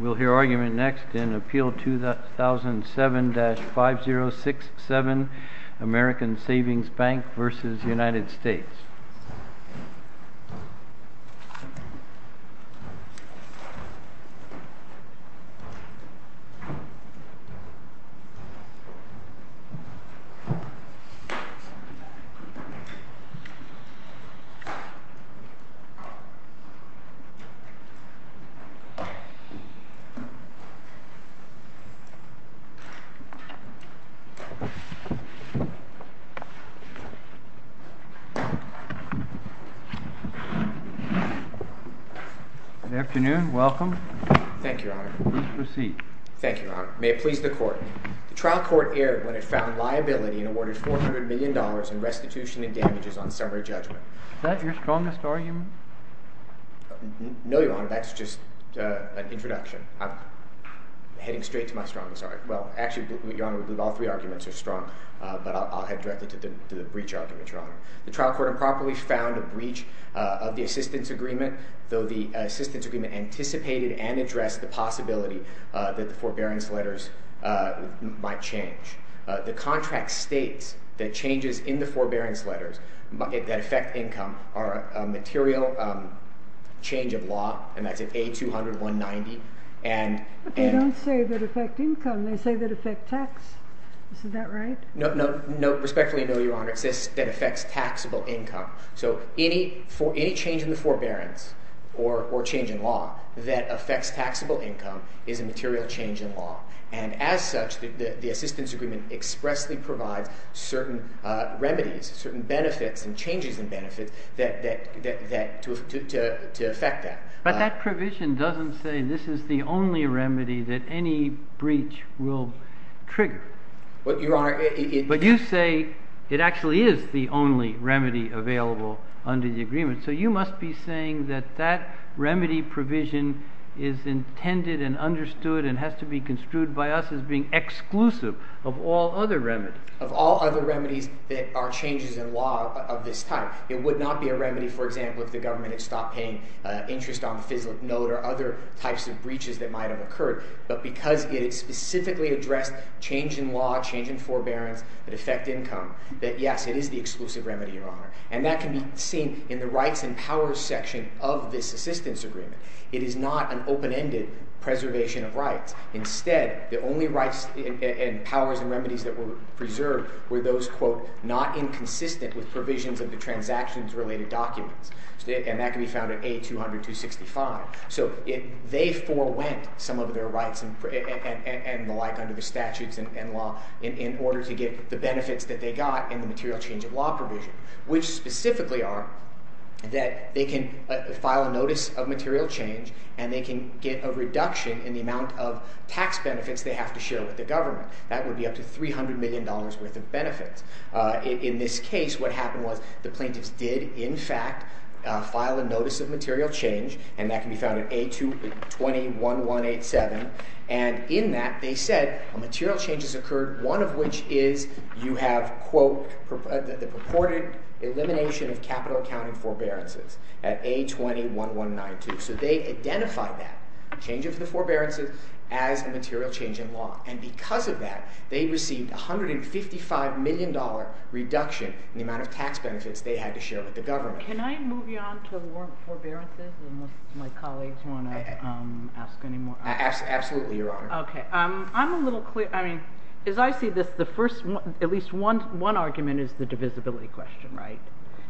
We'll hear argument next in Appeal 2007-5067, American Savings Bank v. United States. Good afternoon. Welcome. Thank you, Your Honor. Please proceed. Thank you, Your Honor. May it please the Court. The trial court erred when it found liability and awarded $400 million in restitution and damages on summary judgment. Is that your strongest argument? No, Your Honor. That's just an introduction. I'm heading straight to my strongest argument. Well, actually, Your Honor, I believe all three arguments are strong, but I'll head directly to the breach argument, Your Honor. The trial court improperly found a breach of the assistance agreement, though the assistance agreement anticipated and addressed the possibility that the forbearance letters might change. The contract states that changes in the forbearance letters that affect income are a material change of law, and that's in A200-190. But they don't say that affect income. They say that affect tax. Is that right? Respectfully, no, Your Honor. It says that affects taxable income. So any change in the forbearance or change in law that affects taxable income is a material change in law. And as such, the assistance agreement expressly provides certain remedies, certain benefits and changes in benefits to affect that. But that provision doesn't say this is the only remedy that any breach will trigger. But, Your Honor, it— But you say it actually is the only remedy available under the agreement. So you must be saying that that remedy provision is intended and understood and has to be construed by us as being exclusive of all other remedies. Of all other remedies that are changes in law of this type. It would not be a remedy, for example, if the government had stopped paying interest on the FISLIP note or other types of breaches that might have occurred. But because it specifically addressed change in law, change in forbearance that affect income, that yes, it is the exclusive remedy, Your Honor. And that can be seen in the rights and powers section of this assistance agreement. It is not an open-ended preservation of rights. Instead, the only rights and powers and remedies that were preserved were those, quote, not inconsistent with provisions of the transactions-related documents. And that can be found in A200265. So they forewent some of their rights and the like under the statutes and law in order to get the benefits that they got in the material change of law provision, which specifically are that they can file a notice of material change and they can get a reduction in the amount of tax benefits they have to share with the government. That would be up to $300 million worth of benefits. In this case, what happened was the plaintiffs did, in fact, file a notice of material change, and that can be found in A21187. And in that, they said a material change has occurred, one of which is you have, quote, the purported elimination of capital accounting forbearances at A21192. So they identified that change of the forbearances as a material change in law. And because of that, they received $155 million reduction in the amount of tax benefits they had to share with the government. Can I move on to warrant forbearances unless my colleagues want to ask any more? Absolutely, Your Honor. OK. I'm a little clear. I mean, as I see this, the first, at least one argument is the divisibility question, right?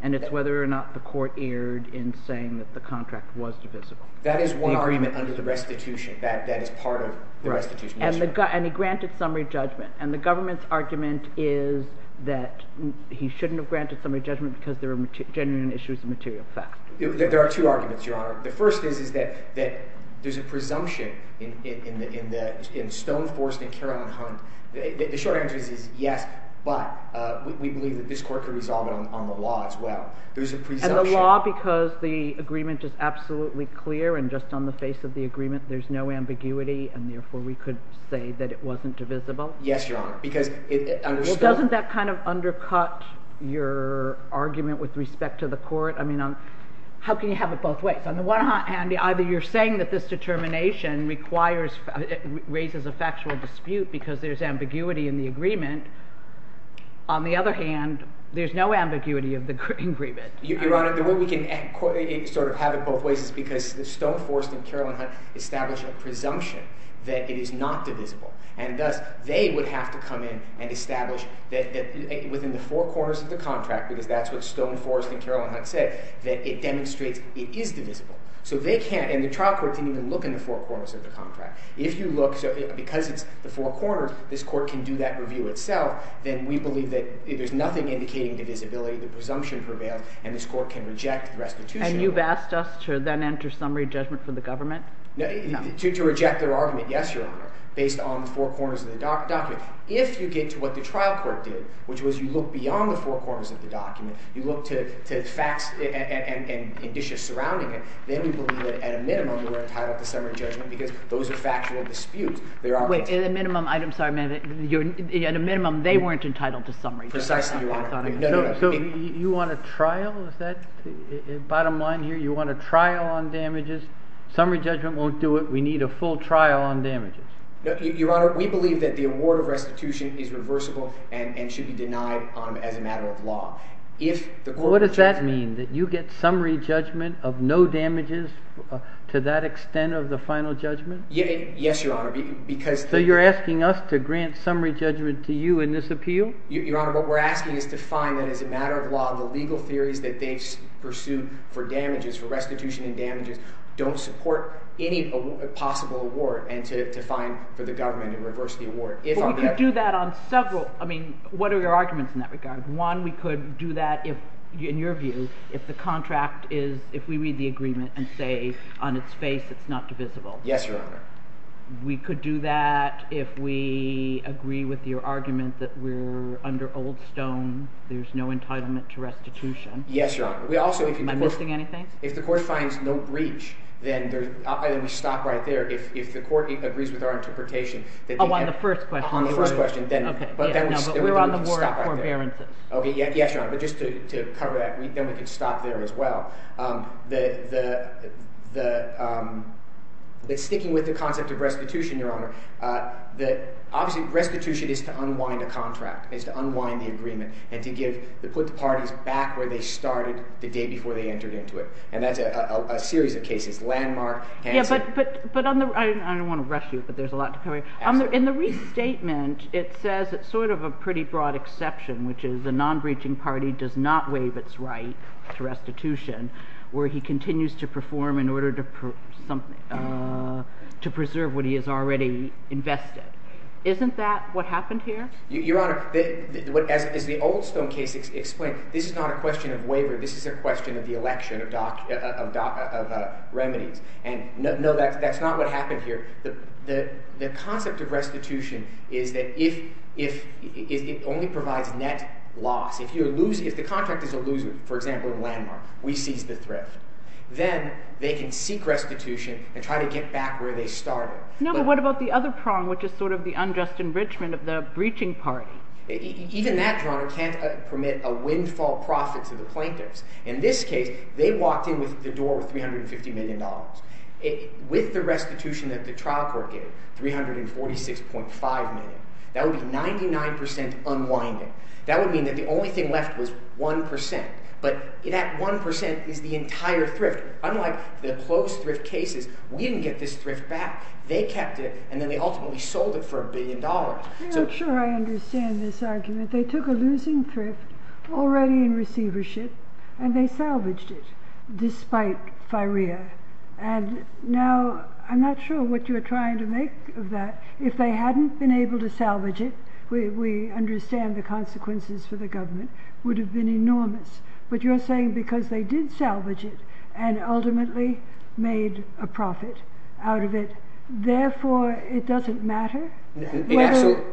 And it's whether or not the court erred in saying that the contract was divisible. That is one argument under the restitution. That is part of the restitution. And he granted summary judgment. And the government's argument is that he shouldn't have granted summary judgment because there were genuine issues of material fact. There are two arguments, Your Honor. The first is that there's a presumption in Stone, Forrest, and Carroll, and Hunt. The short answer is yes, but we believe that this court could resolve it on the law as well. And the law because the agreement is absolutely clear, and just on the face of the agreement, there's no ambiguity, and therefore we could say that it wasn't divisible? Yes, Your Honor, because it understood— Well, doesn't that kind of undercut your argument with respect to the court? I mean, how can you have it both ways? On the one hand, either you're saying that this determination requires—raises a factual dispute because there's ambiguity in the agreement. On the other hand, there's no ambiguity of the agreement. Your Honor, the way we can sort of have it both ways is because Stone, Forrest, and Carroll, and Hunt established a presumption that it is not divisible. And thus, they would have to come in and establish that within the four corners of the contract, because that's what Stone, Forrest, and Carroll, and Hunt said, that it demonstrates it is divisible. So they can't—and the trial court didn't even look in the four corners of the contract. If you look—so because it's the four corners, this court can do that review itself. Then we believe that there's nothing indicating divisibility. The presumption prevails, and this court can reject the restitution. And you've asked us to then enter summary judgment for the government? To reject their argument, yes, Your Honor, based on the four corners of the document. If you get to what the trial court did, which was you look beyond the four corners of the document, you look to facts and indicia surrounding it, then we believe that, at a minimum, we're entitled to summary judgment because those are factual disputes. Wait. At a minimum—I'm sorry, ma'am. At a minimum, they weren't entitled to summary judgment. Precisely, Your Honor. So you want a trial? Is that the bottom line here? You want a trial on damages? Summary judgment won't do it. We need a full trial on damages. Your Honor, we believe that the award of restitution is reversible and should be denied as a matter of law. If the court rejects that— Well, what does that mean, that you get summary judgment of no damages to that extent of the final judgment? Yes, Your Honor, because the— So you're asking us to grant summary judgment to you in this appeal? Your Honor, what we're asking is to find that, as a matter of law, the legal theories that they've pursued for damages, for restitution and damages, don't support any possible award and to find for the government to reverse the award. But we could do that on several—I mean, what are your arguments in that regard? One, we could do that if, in your view, if the contract is—if we read the agreement and say on its face it's not divisible. Yes, Your Honor. We could do that if we agree with your argument that we're under Old Stone. There's no entitlement to restitution. Yes, Your Honor. We also— Am I missing anything? If the court finds no breach, then we stop right there. If the court agrees with our interpretation that— Oh, on the first question. Oh, on the first question, then— But we're on the word forbearances. Okay. Yes, Your Honor. But just to cover that, then we could stop there as well. The—sticking with the concept of restitution, Your Honor, obviously restitution is to unwind a contract. It's to unwind the agreement and to give—to put the parties back where they started the day before they entered into it. And that's a series of cases, Landmark, Hanson— Yeah, but on the—I don't want to rush you, but there's a lot to cover here. Absolutely. So in the restatement, it says it's sort of a pretty broad exception, which is a non-breaching party does not waive its right to restitution, where he continues to perform in order to preserve what he has already invested. Isn't that what happened here? Your Honor, as the Old Stone case explained, this is not a question of waiver. This is a question of the election of remedies. And no, that's not what happened here. The concept of restitution is that if—it only provides net loss. If you're losing—if the contract is a loser, for example, in Landmark, we seize the thrift. Then they can seek restitution and try to get back where they started. No, but what about the other prong, which is sort of the unjust enrichment of the breaching party? Even that, Your Honor, can't permit a windfall profit to the plaintiffs. In this case, they walked in with the door worth $350 million. With the restitution that the trial court gave, $346.5 million, that would be 99% unwinding. That would mean that the only thing left was 1%, but that 1% is the entire thrift. Unlike the closed thrift cases, we didn't get this thrift back. They kept it, and then they ultimately sold it for a billion dollars. I'm not sure I understand this argument. They took a losing thrift already in receivership, and they salvaged it, despite FIREA. And now, I'm not sure what you're trying to make of that. If they hadn't been able to salvage it, we understand the consequences for the government would have been enormous. But you're saying because they did salvage it and ultimately made a profit out of it, therefore it doesn't matter? Absolutely.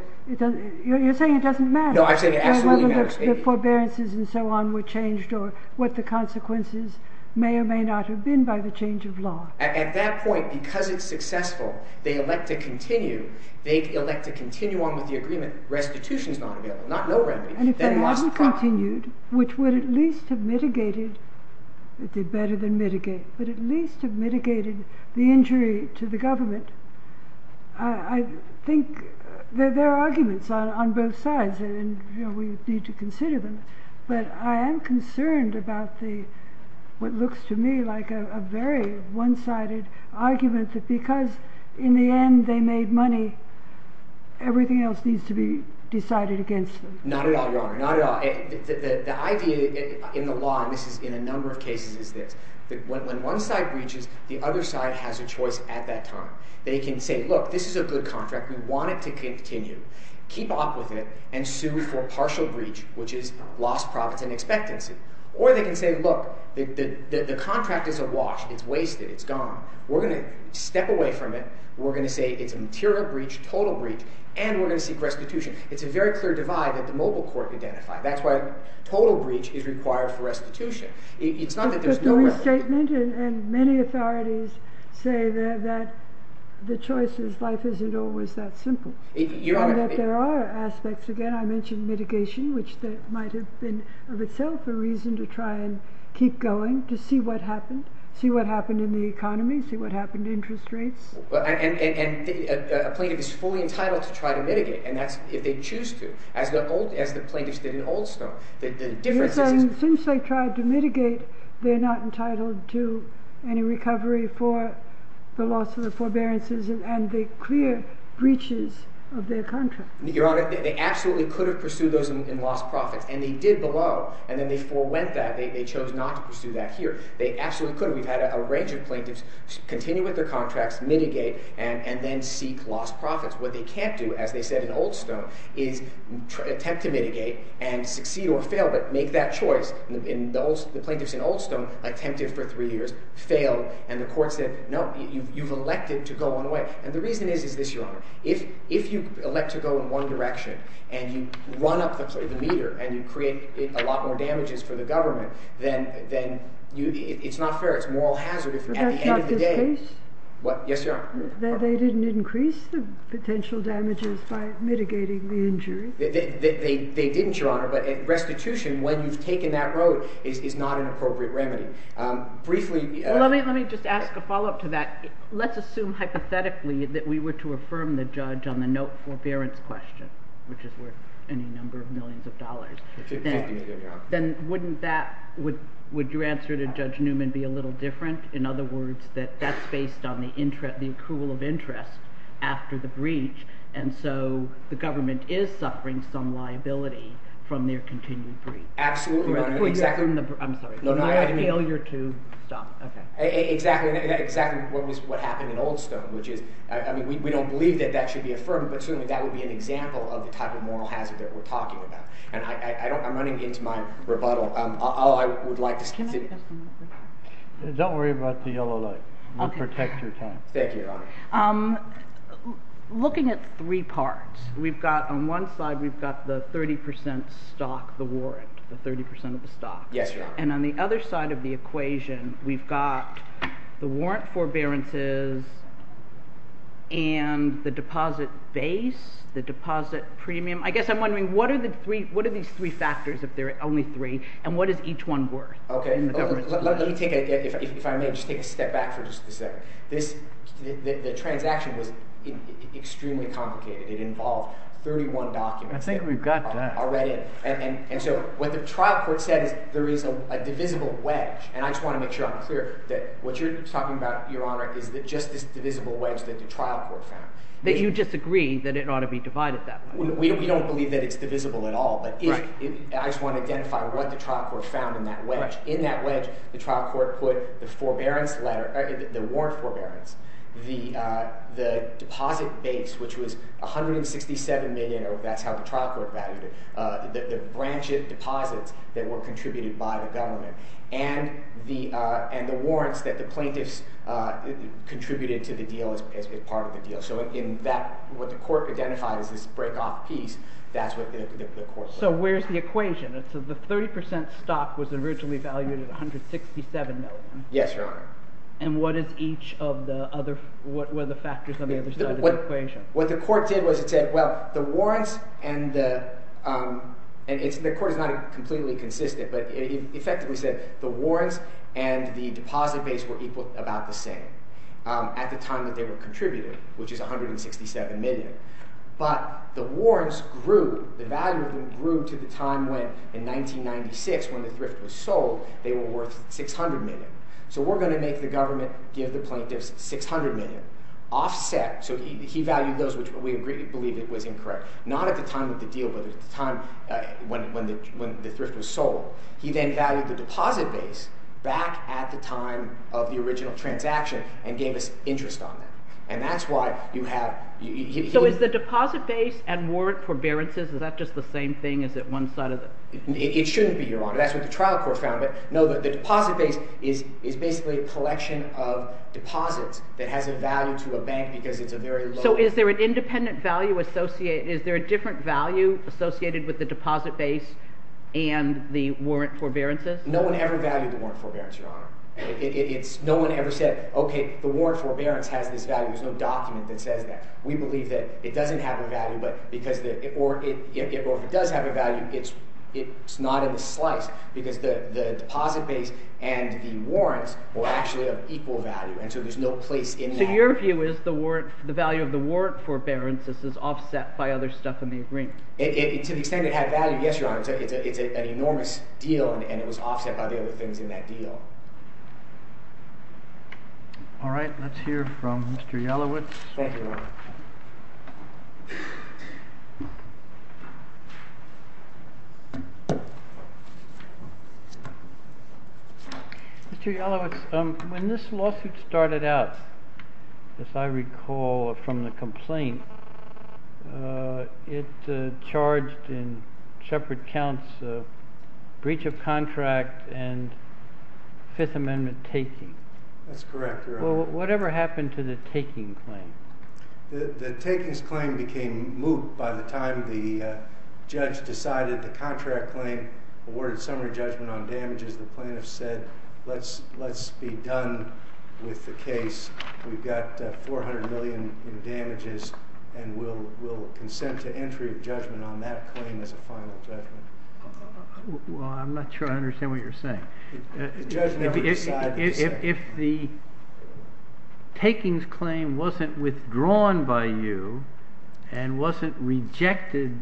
You're saying it doesn't matter. No, I'm saying it absolutely matters. Whether the forbearances and so on were changed or what the consequences may or may not have been by the change of law. At that point, because it's successful, they elect to continue. They elect to continue on with the agreement. Restitution is not available, not no remedy. And if they hadn't continued, which would at least have mitigated – better than mitigate – but at least have mitigated the injury to the government, I think there are arguments on both sides, and we need to consider them. But I am concerned about what looks to me like a very one-sided argument that because in the end they made money, everything else needs to be decided against them. Not at all, Your Honor. Not at all. The idea in the law, and this is in a number of cases, is this. When one side breaches, the other side has a choice at that time. They can say, look, this is a good contract. We want it to continue. Keep up with it and sue for partial breach, which is lost profits and expectancy. Or they can say, look, the contract is a wash. It's wasted. It's gone. We're going to step away from it. We're going to say it's a material breach, total breach, and we're going to seek restitution. It's a very clear divide that the mobile court identified. That's why total breach is required for restitution. It's not that there's no restitution. But the restatement and many authorities say that the choice is life isn't always that simple. Your Honor – And that there are aspects. Again, I mentioned mitigation, which might have been of itself a reason to try and keep going, to see what happened. See what happened in the economy. See what happened to interest rates. And a plaintiff is fully entitled to try to mitigate, and that's if they choose to, as the plaintiffs did in Oldstone. The difference is – Yes, and since they tried to mitigate, they're not entitled to any recovery for the loss of the forbearances and the clear breaches of their contract. Your Honor, they absolutely could have pursued those in lost profits, and they did below, and then they forewent that. They chose not to pursue that here. They absolutely could have. We've had a range of plaintiffs continue with their contracts, mitigate, and then seek lost profits. What they can't do, as they said in Oldstone, is attempt to mitigate and succeed or fail, but make that choice. The plaintiffs in Oldstone attempted for three years, failed, and the court said, no, you've elected to go one way. And the reason is this, Your Honor. If you elect to go in one direction and you run up the meter and you create a lot more damages for the government, then it's not fair. It's a moral hazard if at the end of the day – That's not the case? What? Yes, Your Honor. That they didn't increase the potential damages by mitigating the injury? They didn't, Your Honor, but restitution, when you've taken that road, is not an appropriate remedy. Briefly – Let me just ask a follow-up to that. Let's assume hypothetically that we were to affirm the judge on the note forbearance question, which is worth any number of millions of dollars. Then wouldn't that – would your answer to Judge Newman be a little different? In other words, that that's based on the accrual of interest after the breach, and so the government is suffering some liability from their continued breach. Absolutely. I'm sorry. Failure to stop. Exactly. Exactly what happened in Oldstone, which is – I mean, we don't believe that that should be affirmed, but certainly that would be an example of the type of moral hazard that we're talking about. And I'm running into my rebuttal. All I would like to say – Can I ask a question? Don't worry about the yellow light. We'll protect your time. Thank you, Your Honor. Looking at three parts, we've got – on one side we've got the 30 percent stock, the warrant, the 30 percent of the stock. Yes, Your Honor. And on the other side of the equation, we've got the warrant forbearances and the deposit base, the deposit premium. I guess I'm wondering what are the three – what are these three factors, if there are only three, and what is each one worth in the government's view? Let me take a – if I may, just take a step back for just a second. This – the transaction was extremely complicated. It involved 31 documents. I think we've got that. Already. And so what the trial court said is there is a divisible wedge. And I just want to make sure I'm clear that what you're talking about, Your Honor, is just this divisible wedge that the trial court found. You disagree that it ought to be divided that way. We don't believe that it's divisible at all. Right. But if – I just want to identify what the trial court found in that wedge. In that wedge, the trial court put the forbearance letter – the warrant forbearance, the deposit base, which was $167 million. That's how the trial court valued it. The branch of deposits that were contributed by the government and the warrants that the plaintiffs contributed to the deal as part of the deal. So in that – what the court identified as this break-off piece, that's what the court said. So where's the equation? So the 30% stock was originally valued at $167 million. Yes, Your Honor. And what is each of the other – what were the factors on the other side of the equation? What the court did was it said, well, the warrants and the – and the court is not completely consistent. But it effectively said the warrants and the deposit base were equal – about the same at the time that they were contributed, which is $167 million. But the warrants grew – the value of them grew to the time when, in 1996, when the thrift was sold, they were worth $600 million. So we're going to make the government give the plaintiffs $600 million offset. So he valued those, which we believe it was incorrect. Not at the time of the deal, but at the time when the thrift was sold. He then valued the deposit base back at the time of the original transaction and gave us interest on that. And that's why you have – So is the deposit base and warrant forbearances – is that just the same thing? Is it one side of the – It shouldn't be, Your Honor. That's what the trial court found. But no, the deposit base is basically a collection of deposits that has a value to a bank because it's a very low – So is there an independent value associated – is there a different value associated with the deposit base and the warrant forbearances? No one ever valued the warrant forbearance, Your Honor. It's – no one ever said, okay, the warrant forbearance has this value. There's no document that says that. We believe that it doesn't have a value, but because – or if it does have a value, it's not in the slice because the deposit base and the warrants were actually of equal value. And so there's no place in that. So your view is the value of the warrant forbearance is offset by other stuff in the agreement? To the extent it had value, yes, Your Honor. It's an enormous deal, and it was offset by the other things in that deal. All right. Let's hear from Mr. Yalowitz. Thank you, Your Honor. Mr. Yalowitz, when this lawsuit started out, as I recall from the complaint, it charged in shepherd counts a breach of contract and Fifth Amendment taking. That's correct, Your Honor. Well, whatever happened to the taking claim? The takings claim became moot by the time the judge decided the contract claim, awarded summary judgment on damages. The plaintiffs said, let's be done with the case. We've got $400 million in damages, and we'll consent to entry of judgment on that claim as a final judgment. Well, I'm not sure I understand what you're saying. The judge never decided to say. If the takings claim wasn't withdrawn by you and wasn't rejected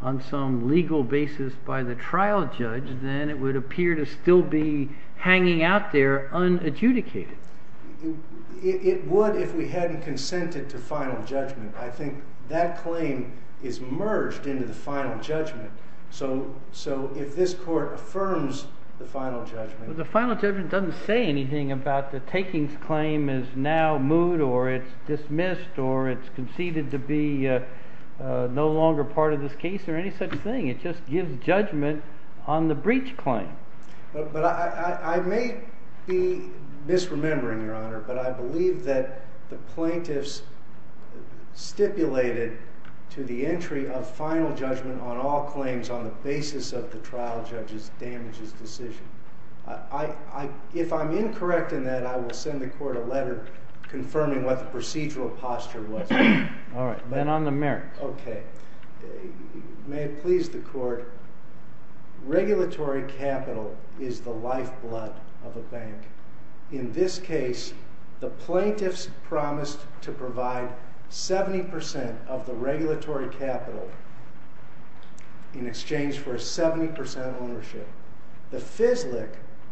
on some legal basis by the trial judge, then it would appear to still be hanging out there unadjudicated. It would if we hadn't consented to final judgment. I think that claim is merged into the final judgment. So if this court affirms the final judgment. The final judgment doesn't say anything about the takings claim is now moot or it's dismissed or it's conceded to be no longer part of this case or any such thing. It just gives judgment on the breach claim. I may be misremembering, Your Honor, but I believe that the plaintiffs stipulated to the entry of final judgment on all claims on the basis of the trial judge's damages decision. If I'm incorrect in that, I will send the court a letter confirming what the procedural posture was. All right. Then on the merits. Okay. May it please the court. Regulatory capital is the lifeblood of a bank. In this case, the plaintiffs promised to provide 70% of the regulatory capital in exchange for 70% ownership. The FISLIC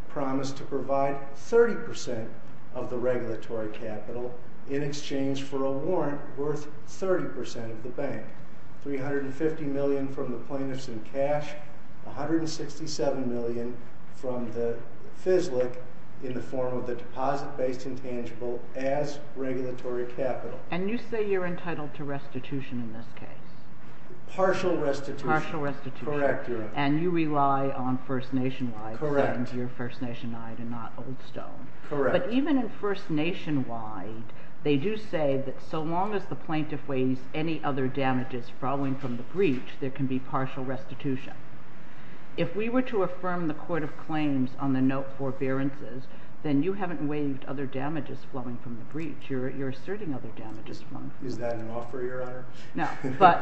promised to provide 30% of the regulatory capital in exchange for a warrant worth 30% of the bank. $350 million from the plaintiffs in cash, $167 million from the FISLIC in the form of the deposit-based intangible as regulatory capital. And you say you're entitled to restitution in this case? Partial restitution. Correct, Your Honor. And you rely on First Nation wide and not Old Stone. Correct. But even in First Nation wide, they do say that so long as the plaintiff waives any other damages following from the breach, there can be partial restitution. If we were to affirm the court of claims on the note forbearances, then you haven't waived other damages flowing from the breach. You're asserting other damages. Is that an offer, Your Honor? No.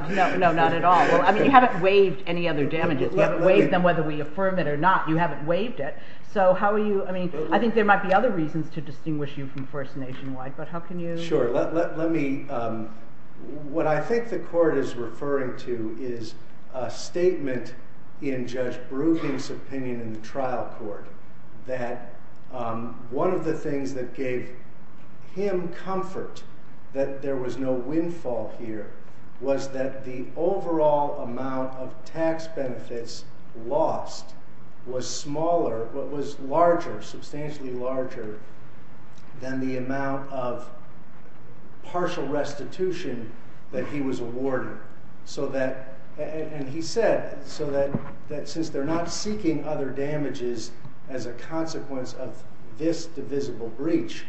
No, not at all. I mean, you haven't waived any other damages. You haven't waived them whether we affirm it or not. You haven't waived it. So how are you—I mean, I think there might be other reasons to distinguish you from First Nation wide, but how can you— tax benefits lost was smaller—was larger, substantially larger than the amount of partial restitution that he was awarded. So that—and he said, so that since they're not seeking other damages as a consequence of this divisible breach,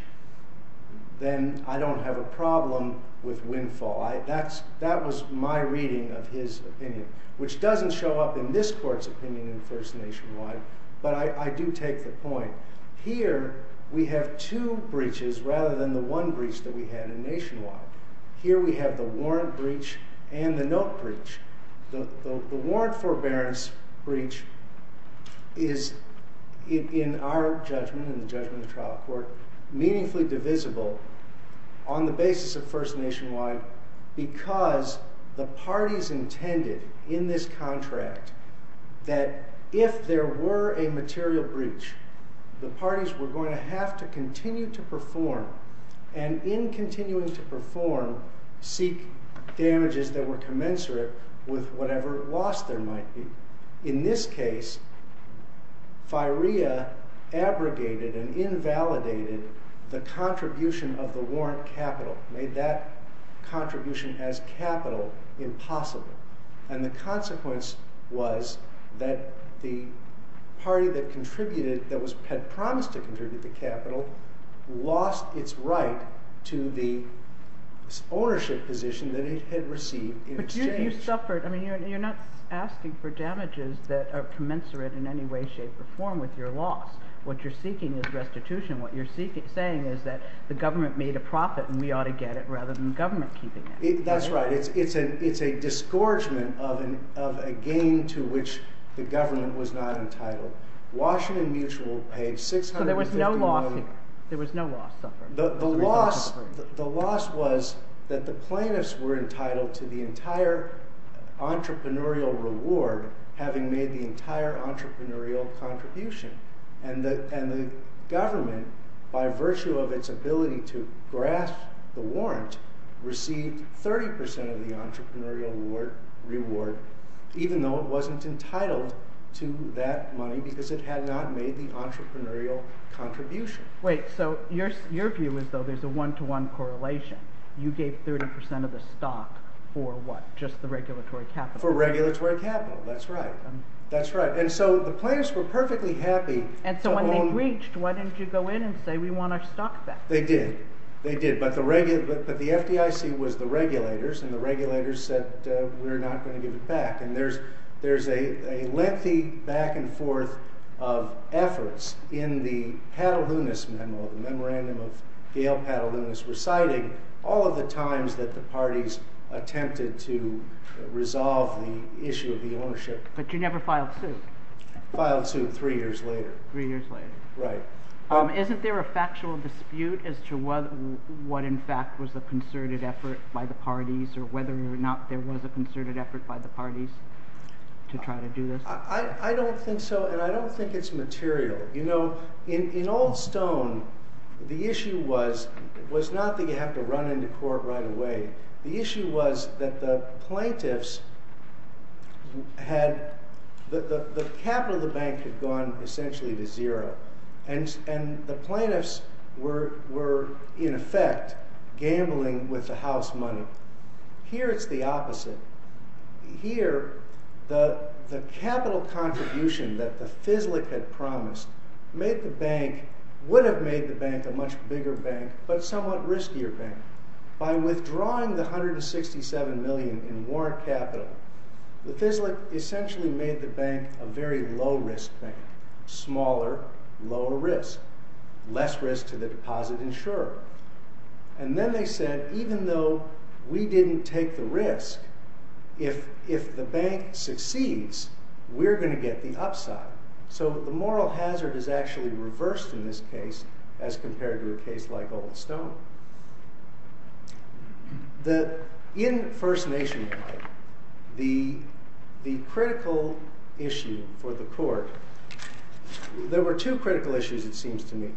then I don't have a problem with windfall. That was my reading of his opinion, which doesn't show up in this court's opinion in First Nation wide, but I do take the point. Here we have two breaches rather than the one breach that we had in Nation wide. Here we have the warrant breach and the note breach. The warrant forbearance breach is, in our judgment, in the judgment of the trial court, meaningfully divisible on the basis of First Nation wide because the parties intended in this contract that if there were a material breach, the parties were going to have to continue to perform, and in continuing to perform, seek damages that were commensurate with whatever loss there might be. In this case, FIREA abrogated and invalidated the contribution of the warrant capital, made that contribution as capital impossible. And the consequence was that the party that contributed, that had promised to contribute the capital, lost its right to the ownership position that it had received in exchange. But you suffered—I mean, you're not asking for damages that are commensurate in any way, shape, or form with your loss. What you're seeking is restitution. What you're saying is that the government made a profit and we ought to get it rather than the government keeping it. That's right. It's a disgorgement of a gain to which the government was not entitled. Washington Mutual paid $650 million— So there was no loss here. There was no loss suffered. The loss was that the plaintiffs were entitled to the entire entrepreneurial reward, having made the entire entrepreneurial contribution. And the government, by virtue of its ability to grasp the warrant, received 30% of the entrepreneurial reward, even though it wasn't entitled to that money because it had not made the entrepreneurial contribution. Wait. So your view is, though, there's a one-to-one correlation. You gave 30% of the stock for what? Just the regulatory capital? For regulatory capital. That's right. That's right. And so the plaintiffs were perfectly happy— And so when they breached, why didn't you go in and say, we want our stock back? They did. They did. But the FDIC was the regulators, and the regulators said, we're not going to give it back. And there's a lengthy back and forth of efforts in the Patalunis memo, the memorandum of Gail Patalunis reciting all of the times that the parties attempted to resolve the issue of the ownership. But you never filed suit. Filed suit three years later. Three years later. Right. Isn't there a factual dispute as to what in fact was a concerted effort by the parties or whether or not there was a concerted effort by the parties to try to do this? I don't think so, and I don't think it's material. You know, in Old Stone, the issue was not that you have to run into court right away. The issue was that the plaintiffs had—the capital of the bank had gone essentially to zero, and the plaintiffs were in effect gambling with the house money. Here it's the opposite. Here, the capital contribution that the FISLIC had promised made the bank—would have made the bank a much bigger bank, but somewhat riskier bank. By withdrawing the $167 million in warrant capital, the FISLIC essentially made the bank a very low-risk bank. Smaller, lower risk. Less risk to the deposit insurer. And then they said, even though we didn't take the risk, if the bank succeeds, we're going to get the upside. So the moral hazard is actually reversed in this case as compared to a case like Old Stone. So in First Nation law, the critical issue for the court—there were two critical issues, it seems to me.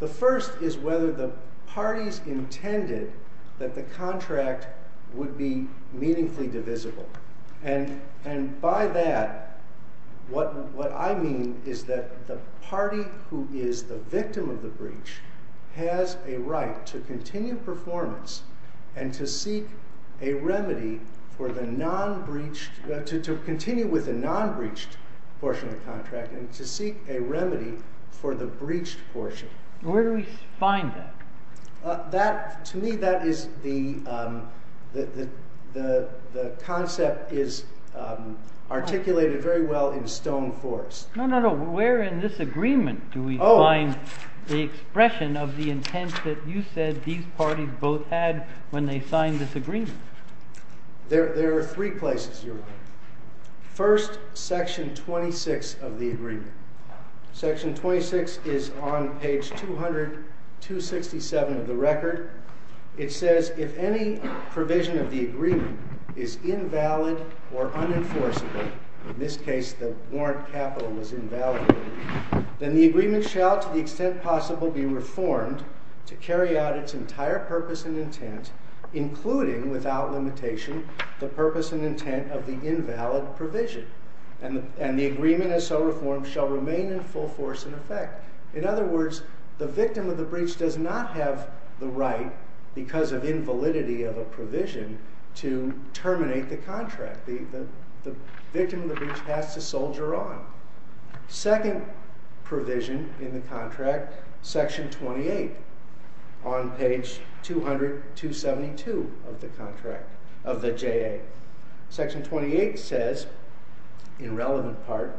The first is whether the parties intended that the contract would be meaningfully divisible. And by that, what I mean is that the party who is the victim of the breach has a right to continue performance and to seek a remedy for the non-breached—to continue with the non-breached portion of the contract and to seek a remedy for the breached portion. Where do we find that? To me, that is the—the concept is articulated very well in Stone Force. No, no, no. Where in this agreement do we find the expression of the intent that you said these parties both had when they signed this agreement? There are three places, Your Honor. First, Section 26 of the agreement. Section 26 is on page 200, 267 of the record. It says, if any provision of the agreement is invalid or unenforceable—in this case, the warrant capital was invalidated— then the agreement shall, to the extent possible, be reformed to carry out its entire purpose and intent, including, without limitation, the purpose and intent of the invalid provision. And the agreement, as so reformed, shall remain in full force and effect. In other words, the victim of the breach does not have the right, because of invalidity of a provision, to terminate the contract. The victim of the breach has to soldier on. Second provision in the contract, Section 28, on page 200, 272 of the contract—of the JA. Section 28 says, in relevant part,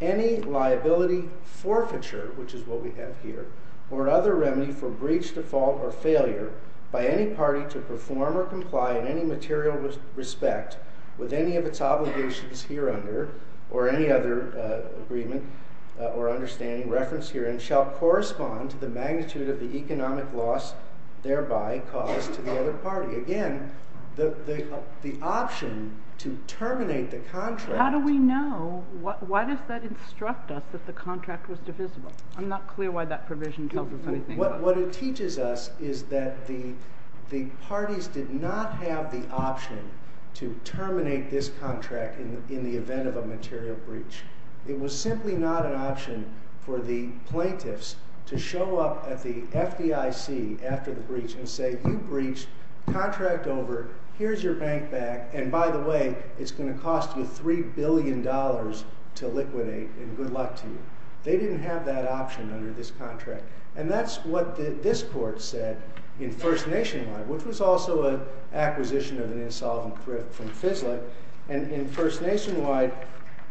any liability forfeiture, which is what we have here, or other remedy for breach, default, or failure by any party to perform or comply in any material respect with any of its obligations here under, or any other agreement or understanding referenced herein, shall correspond to the magnitude of the economic loss thereby caused to the other party. Again, the option to terminate the contract— How do we know? Why does that instruct us that the contract was divisible? I'm not clear why that provision tells us anything. What it teaches us is that the parties did not have the option to terminate this contract in the event of a material breach. It was simply not an option for the plaintiffs to show up at the FDIC after the breach and say, you breached, contract over, here's your bank back, and by the way, it's going to cost you $3 billion to liquidate, and good luck to you. They didn't have that option under this contract. And that's what this court said in First Nation, which was also an acquisition of an insolvent thrift from FISLA. And in First Nation,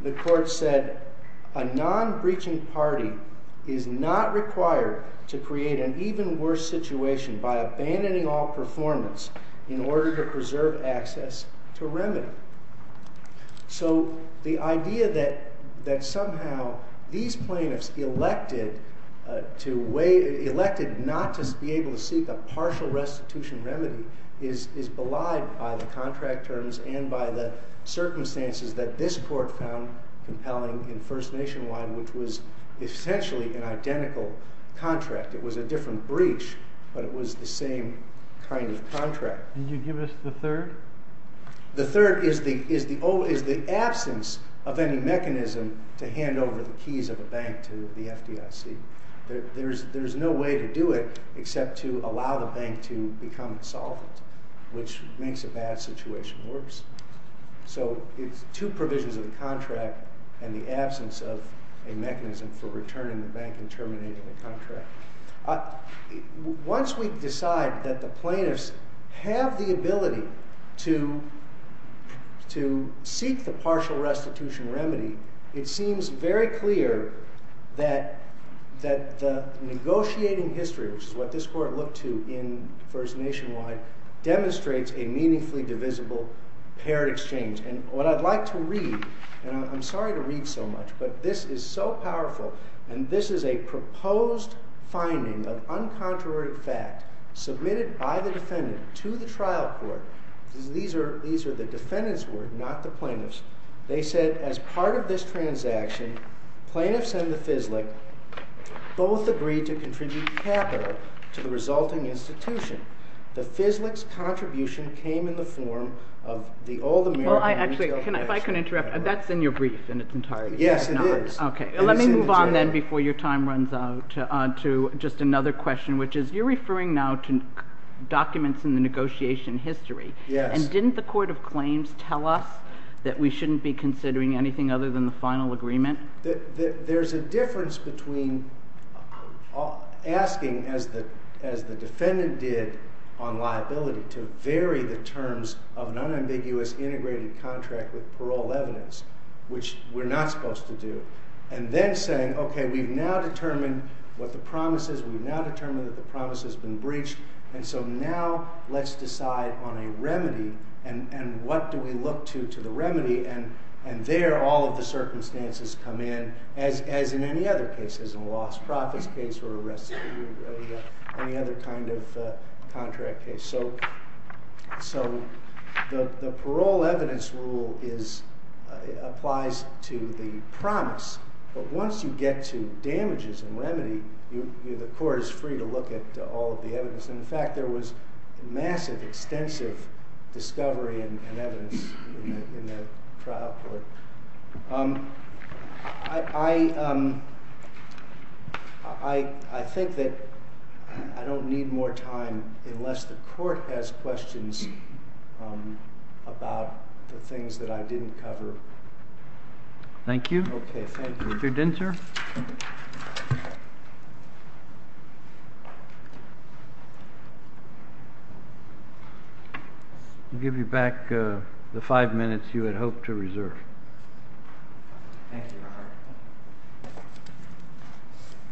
the court said, a non-breaching party is not required to create an even worse situation by abandoning all performance in order to preserve access to remedy. So the idea that somehow these plaintiffs elected not to be able to seek a partial restitution remedy is belied by the contract terms and by the circumstances that this court found compelling in First Nation, which was essentially an identical contract. It was a different breach, but it was the same kind of contract. Did you give us the third? The third is the absence of any mechanism to hand over the keys of a bank to the FDIC. There's no way to do it except to allow the bank to become insolvent, which makes a bad situation worse. So it's two provisions of the contract and the absence of a mechanism for returning the bank and terminating the contract. Once we decide that the plaintiffs have the ability to seek the partial restitution remedy, it seems very clear that the negotiating history, which is what this court looked to in First Nation wide, demonstrates a meaningfully divisible paired exchange. And what I'd like to read, and I'm sorry to read so much, but this is so powerful, and this is a proposed finding of uncontroverted fact submitted by the defendant to the trial court. These are the defendant's word, not the plaintiff's. They said, as part of this transaction, plaintiffs and the FISLIC both agreed to contribute capital to the resulting institution. The FISLIC's contribution came in the form of the Old American. Well, actually, if I can interrupt, that's in your brief in its entirety. Yes, it is. Okay, let me move on then before your time runs out to just another question, which is you're referring now to documents in the negotiation history. Yes. And didn't the court of claims tell us that we shouldn't be considering anything other than the final agreement? There's a difference between asking, as the defendant did on liability, to vary the terms of an unambiguous integrated contract with parole evidence, which we're not supposed to do, and then saying, okay, we've now determined what the promise is, we've now determined that the promise has been breached, and so now let's decide on a remedy, and what do we look to to the remedy? And there all of the circumstances come in, as in any other cases, in a lost profits case or any other kind of contract case. So the parole evidence rule applies to the promise, but once you get to damages and remedy, the court is free to look at all of the evidence. In fact, there was massive, extensive discovery and evidence in the trial court. I think that I don't need more time unless the court has questions about the things that I didn't cover. Thank you. Okay, thank you. Mr. Dinter? I'll give you back the five minutes you had hoped to reserve. Thank you,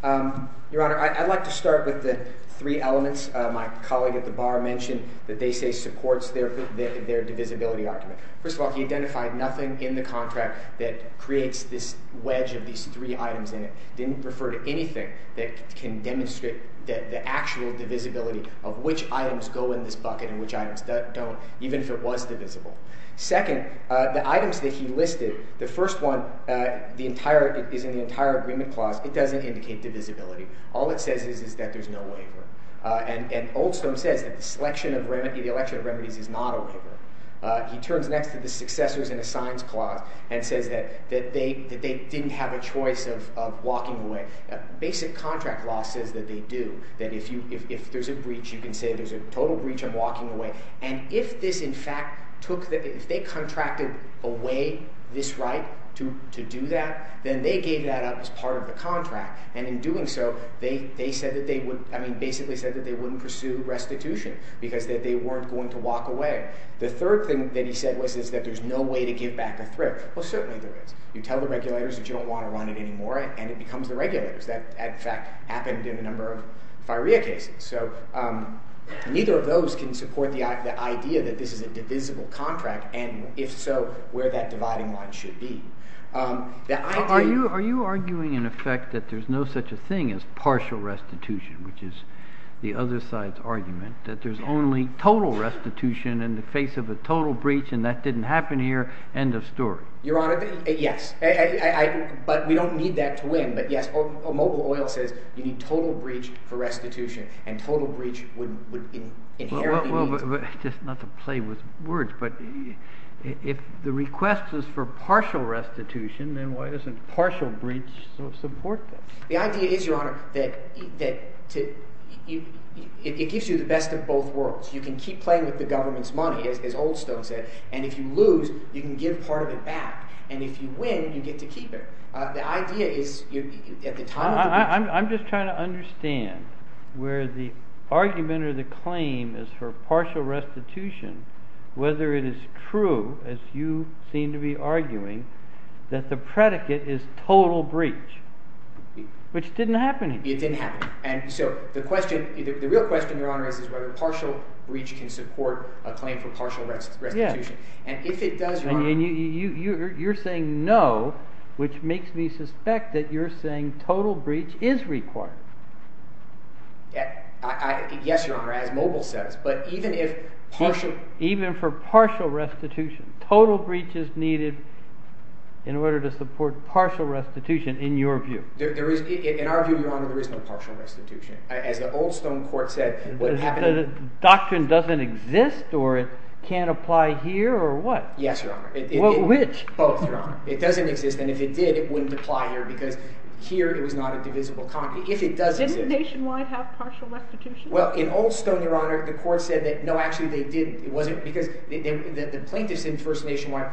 Your Honor. Your Honor, I'd like to start with the three elements my colleague at the bar mentioned, that they say supports their divisibility argument. First of all, he identified nothing in the contract that creates this wedge of these three items in it. He didn't refer to anything that can demonstrate the actual divisibility of which items go in this bucket and which items don't, even if it was divisible. Second, the items that he listed, the first one is in the entire agreement clause. It doesn't indicate divisibility. All it says is that there's no waiver. And Oldstone says that the selection of remedies is not a waiver. He turns next to the successors in the signs clause and says that they didn't have a choice of walking away. Basic contract law says that they do, that if there's a breach, you can say there's a total breach of walking away. And if this, in fact, took the—if they contracted away this right to do that, then they gave that up as part of the contract. And in doing so, they said that they would—I mean, basically said that they wouldn't pursue restitution because they weren't going to walk away. The third thing that he said was that there's no way to give back a threat. Well, certainly there is. You tell the regulators that you don't want to run it anymore, and it becomes the regulators. That, in fact, happened in a number of FIREA cases. So neither of those can support the idea that this is a divisible contract and, if so, where that dividing line should be. I— Are you arguing, in effect, that there's no such a thing as partial restitution, which is the other side's argument, that there's only total restitution in the face of a total breach, and that didn't happen here? End of story. Your Honor, yes. But we don't need that to win. But, yes, Mobile Oil says you need total breach for restitution, and total breach would inherently mean— Well, just not to play with words, but if the request is for partial restitution, then why doesn't partial breach support that? The idea is, Your Honor, that it gives you the best of both worlds. You can keep playing with the government's money, as Oldstone said, and if you lose, you can give part of it back. And if you win, you get to keep it. The idea is at the time— I'm just trying to understand where the argument or the claim is for partial restitution, whether it is true, as you seem to be arguing, that the predicate is total breach. Which didn't happen here. It didn't happen. And so the question—the real question, Your Honor, is whether partial breach can support a claim for partial restitution. And if it does, Your Honor— And you're saying no, which makes me suspect that you're saying total breach is required. Yes, Your Honor, as Mobile says. Even for partial restitution, total breach is needed in order to support partial restitution in your view. In our view, Your Honor, there is no partial restitution. As the Oldstone court said, what happened— So the doctrine doesn't exist, or it can't apply here, or what? Yes, Your Honor. Well, which? Both, Your Honor. It doesn't exist, and if it did, it wouldn't apply here because here it was not a divisible concord. If it does exist— Didn't Nationwide have partial restitution? Well, in Oldstone, Your Honor, the court said that no, actually they didn't. It wasn't because—the plaintiffs in First Nationwide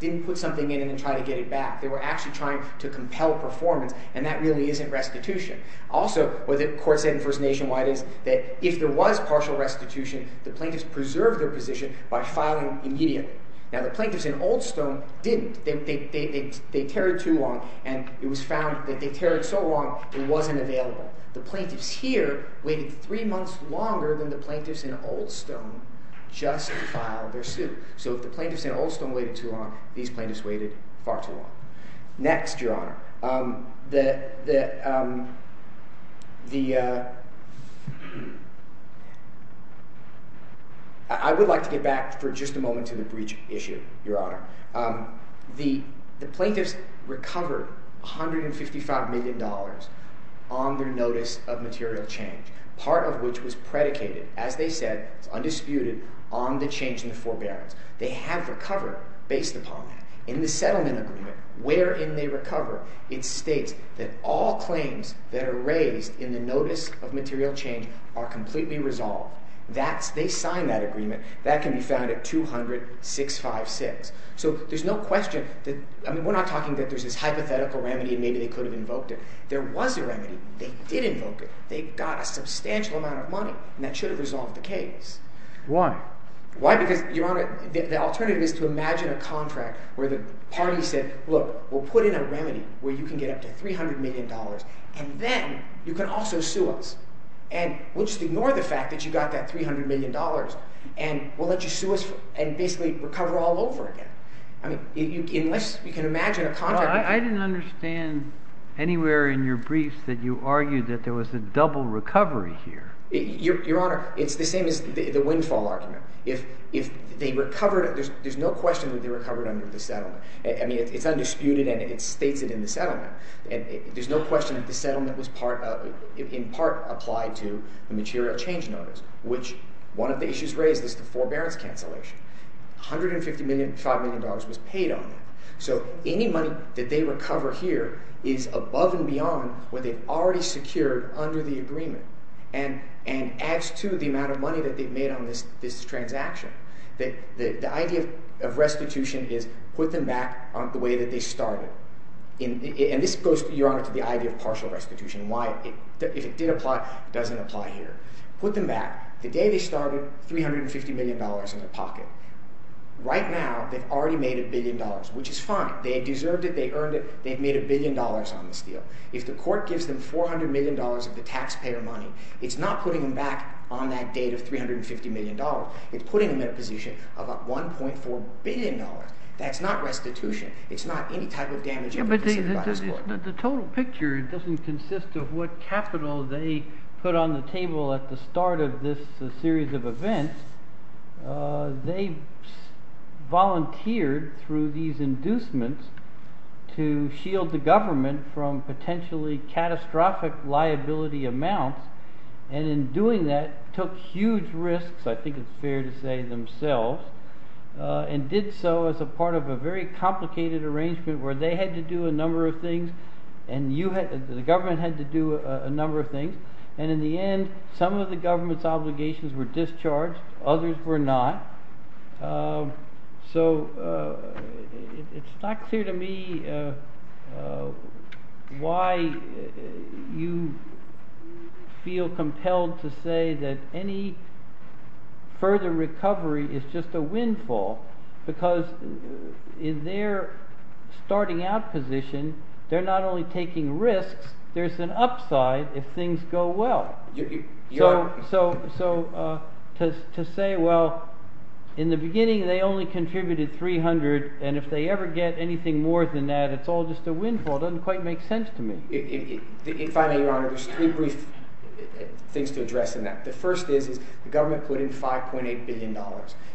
didn't put something in and try to get it back. They were actually trying to compel performance, and that really isn't restitution. Also, what the court said in First Nationwide is that if there was partial restitution, the plaintiffs preserved their position by filing immediately. Now, the plaintiffs in Oldstone didn't. They tarried too long, and it was found that they tarried so long it wasn't available. The plaintiffs here waited three months longer than the plaintiffs in Oldstone just to file their suit. So if the plaintiffs in Oldstone waited too long, these plaintiffs waited far too long. Next, Your Honor, the— I would like to get back for just a moment to the breach issue, Your Honor. The plaintiffs recovered $155 million on their notice of material change, part of which was predicated, as they said, undisputed, on the change in the forbearance. They have recovered based upon that. In the settlement agreement, wherein they recover, it states that all claims that are raised in the notice of material change are completely resolved. That's—they signed that agreement. That can be found at 200-656. So there's no question that—I mean, we're not talking that there's this hypothetical remedy and maybe they could have invoked it. There was a remedy. They did invoke it. They got a substantial amount of money, and that should have resolved the case. Why? Why? Because, Your Honor, the alternative is to imagine a contract where the parties said, look, we'll put in a remedy where you can get up to $300 million, and then you can also sue us. And we'll just ignore the fact that you got that $300 million, and we'll let you sue us and basically recover all over again. I mean unless you can imagine a contract— I didn't understand anywhere in your briefs that you argued that there was a double recovery here. Your Honor, it's the same as the windfall argument. If they recovered—there's no question that they recovered under the settlement. I mean it's undisputed, and it states it in the settlement. There's no question that the settlement was in part applied to the material change notice, which one of the issues raised is the forbearance cancellation. $150 million to $5 million was paid on that. So any money that they recover here is above and beyond what they've already secured under the agreement and adds to the amount of money that they've made on this transaction. The idea of restitution is put them back the way that they started. And this goes, Your Honor, to the idea of partial restitution and why if it did apply, it doesn't apply here. Put them back. The day they started, $350 million in their pocket. Right now, they've already made a billion dollars, which is fine. They deserved it. They earned it. They've made a billion dollars on this deal. If the court gives them $400 million of the taxpayer money, it's not putting them back on that date of $350 million. It's putting them in a position of $1.4 billion. That's not restitution. It's not any type of damage. But the total picture doesn't consist of what capital they put on the table at the start of this series of events. They volunteered through these inducements to shield the government from potentially catastrophic liability amounts. And in doing that, took huge risks, I think it's fair to say, themselves. And did so as a part of a very complicated arrangement where they had to do a number of things and the government had to do a number of things. And in the end, some of the government's obligations were discharged. Others were not. So it's not clear to me why you feel compelled to say that any further recovery is just a windfall. Because in their starting out position, they're not only taking risks, there's an upside if things go well. So to say, well, in the beginning they only contributed $300 million, and if they ever get anything more than that, it's all just a windfall doesn't quite make sense to me. Finally, Your Honor, there's three brief things to address in that. The first is the government put in $5.8 billion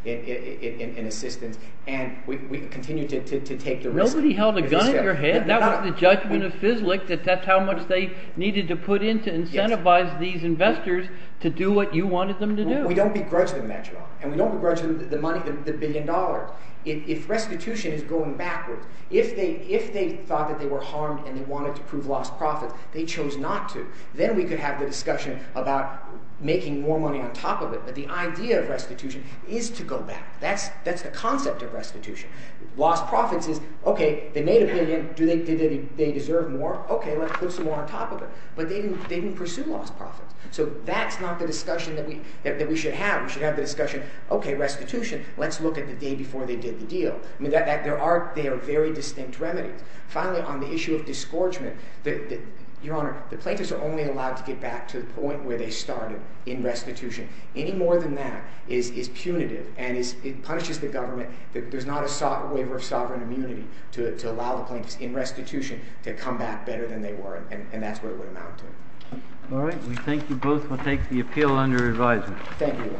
in assistance, and we continue to take the risk. Somebody held a gun in your head. That was the judgment of FISLIC that that's how much they needed to put in to incentivize these investors to do what you wanted them to do. We don't begrudge them that, Your Honor, and we don't begrudge them the money, the billion dollars. If restitution is going backwards, if they thought that they were harmed and they wanted to prove lost profits, they chose not to. Then we could have the discussion about making more money on top of it, but the idea of restitution is to go back. That's the concept of restitution. Lost profits is, okay, they made a billion. Do they deserve more? Okay, let's put some more on top of it. But they didn't pursue lost profits, so that's not the discussion that we should have. We should have the discussion, okay, restitution, let's look at the day before they did the deal. I mean, there are – they are very distinct remedies. Finally, on the issue of disgorgement, Your Honor, the plaintiffs are only allowed to get back to the point where they started in restitution. Any more than that is punitive and it punishes the government. There's not a waiver of sovereign immunity to allow the plaintiffs in restitution to come back better than they were, and that's where it would amount to. All right. We thank you both. We'll take the appeal under advisement. Thank you, Your Honor.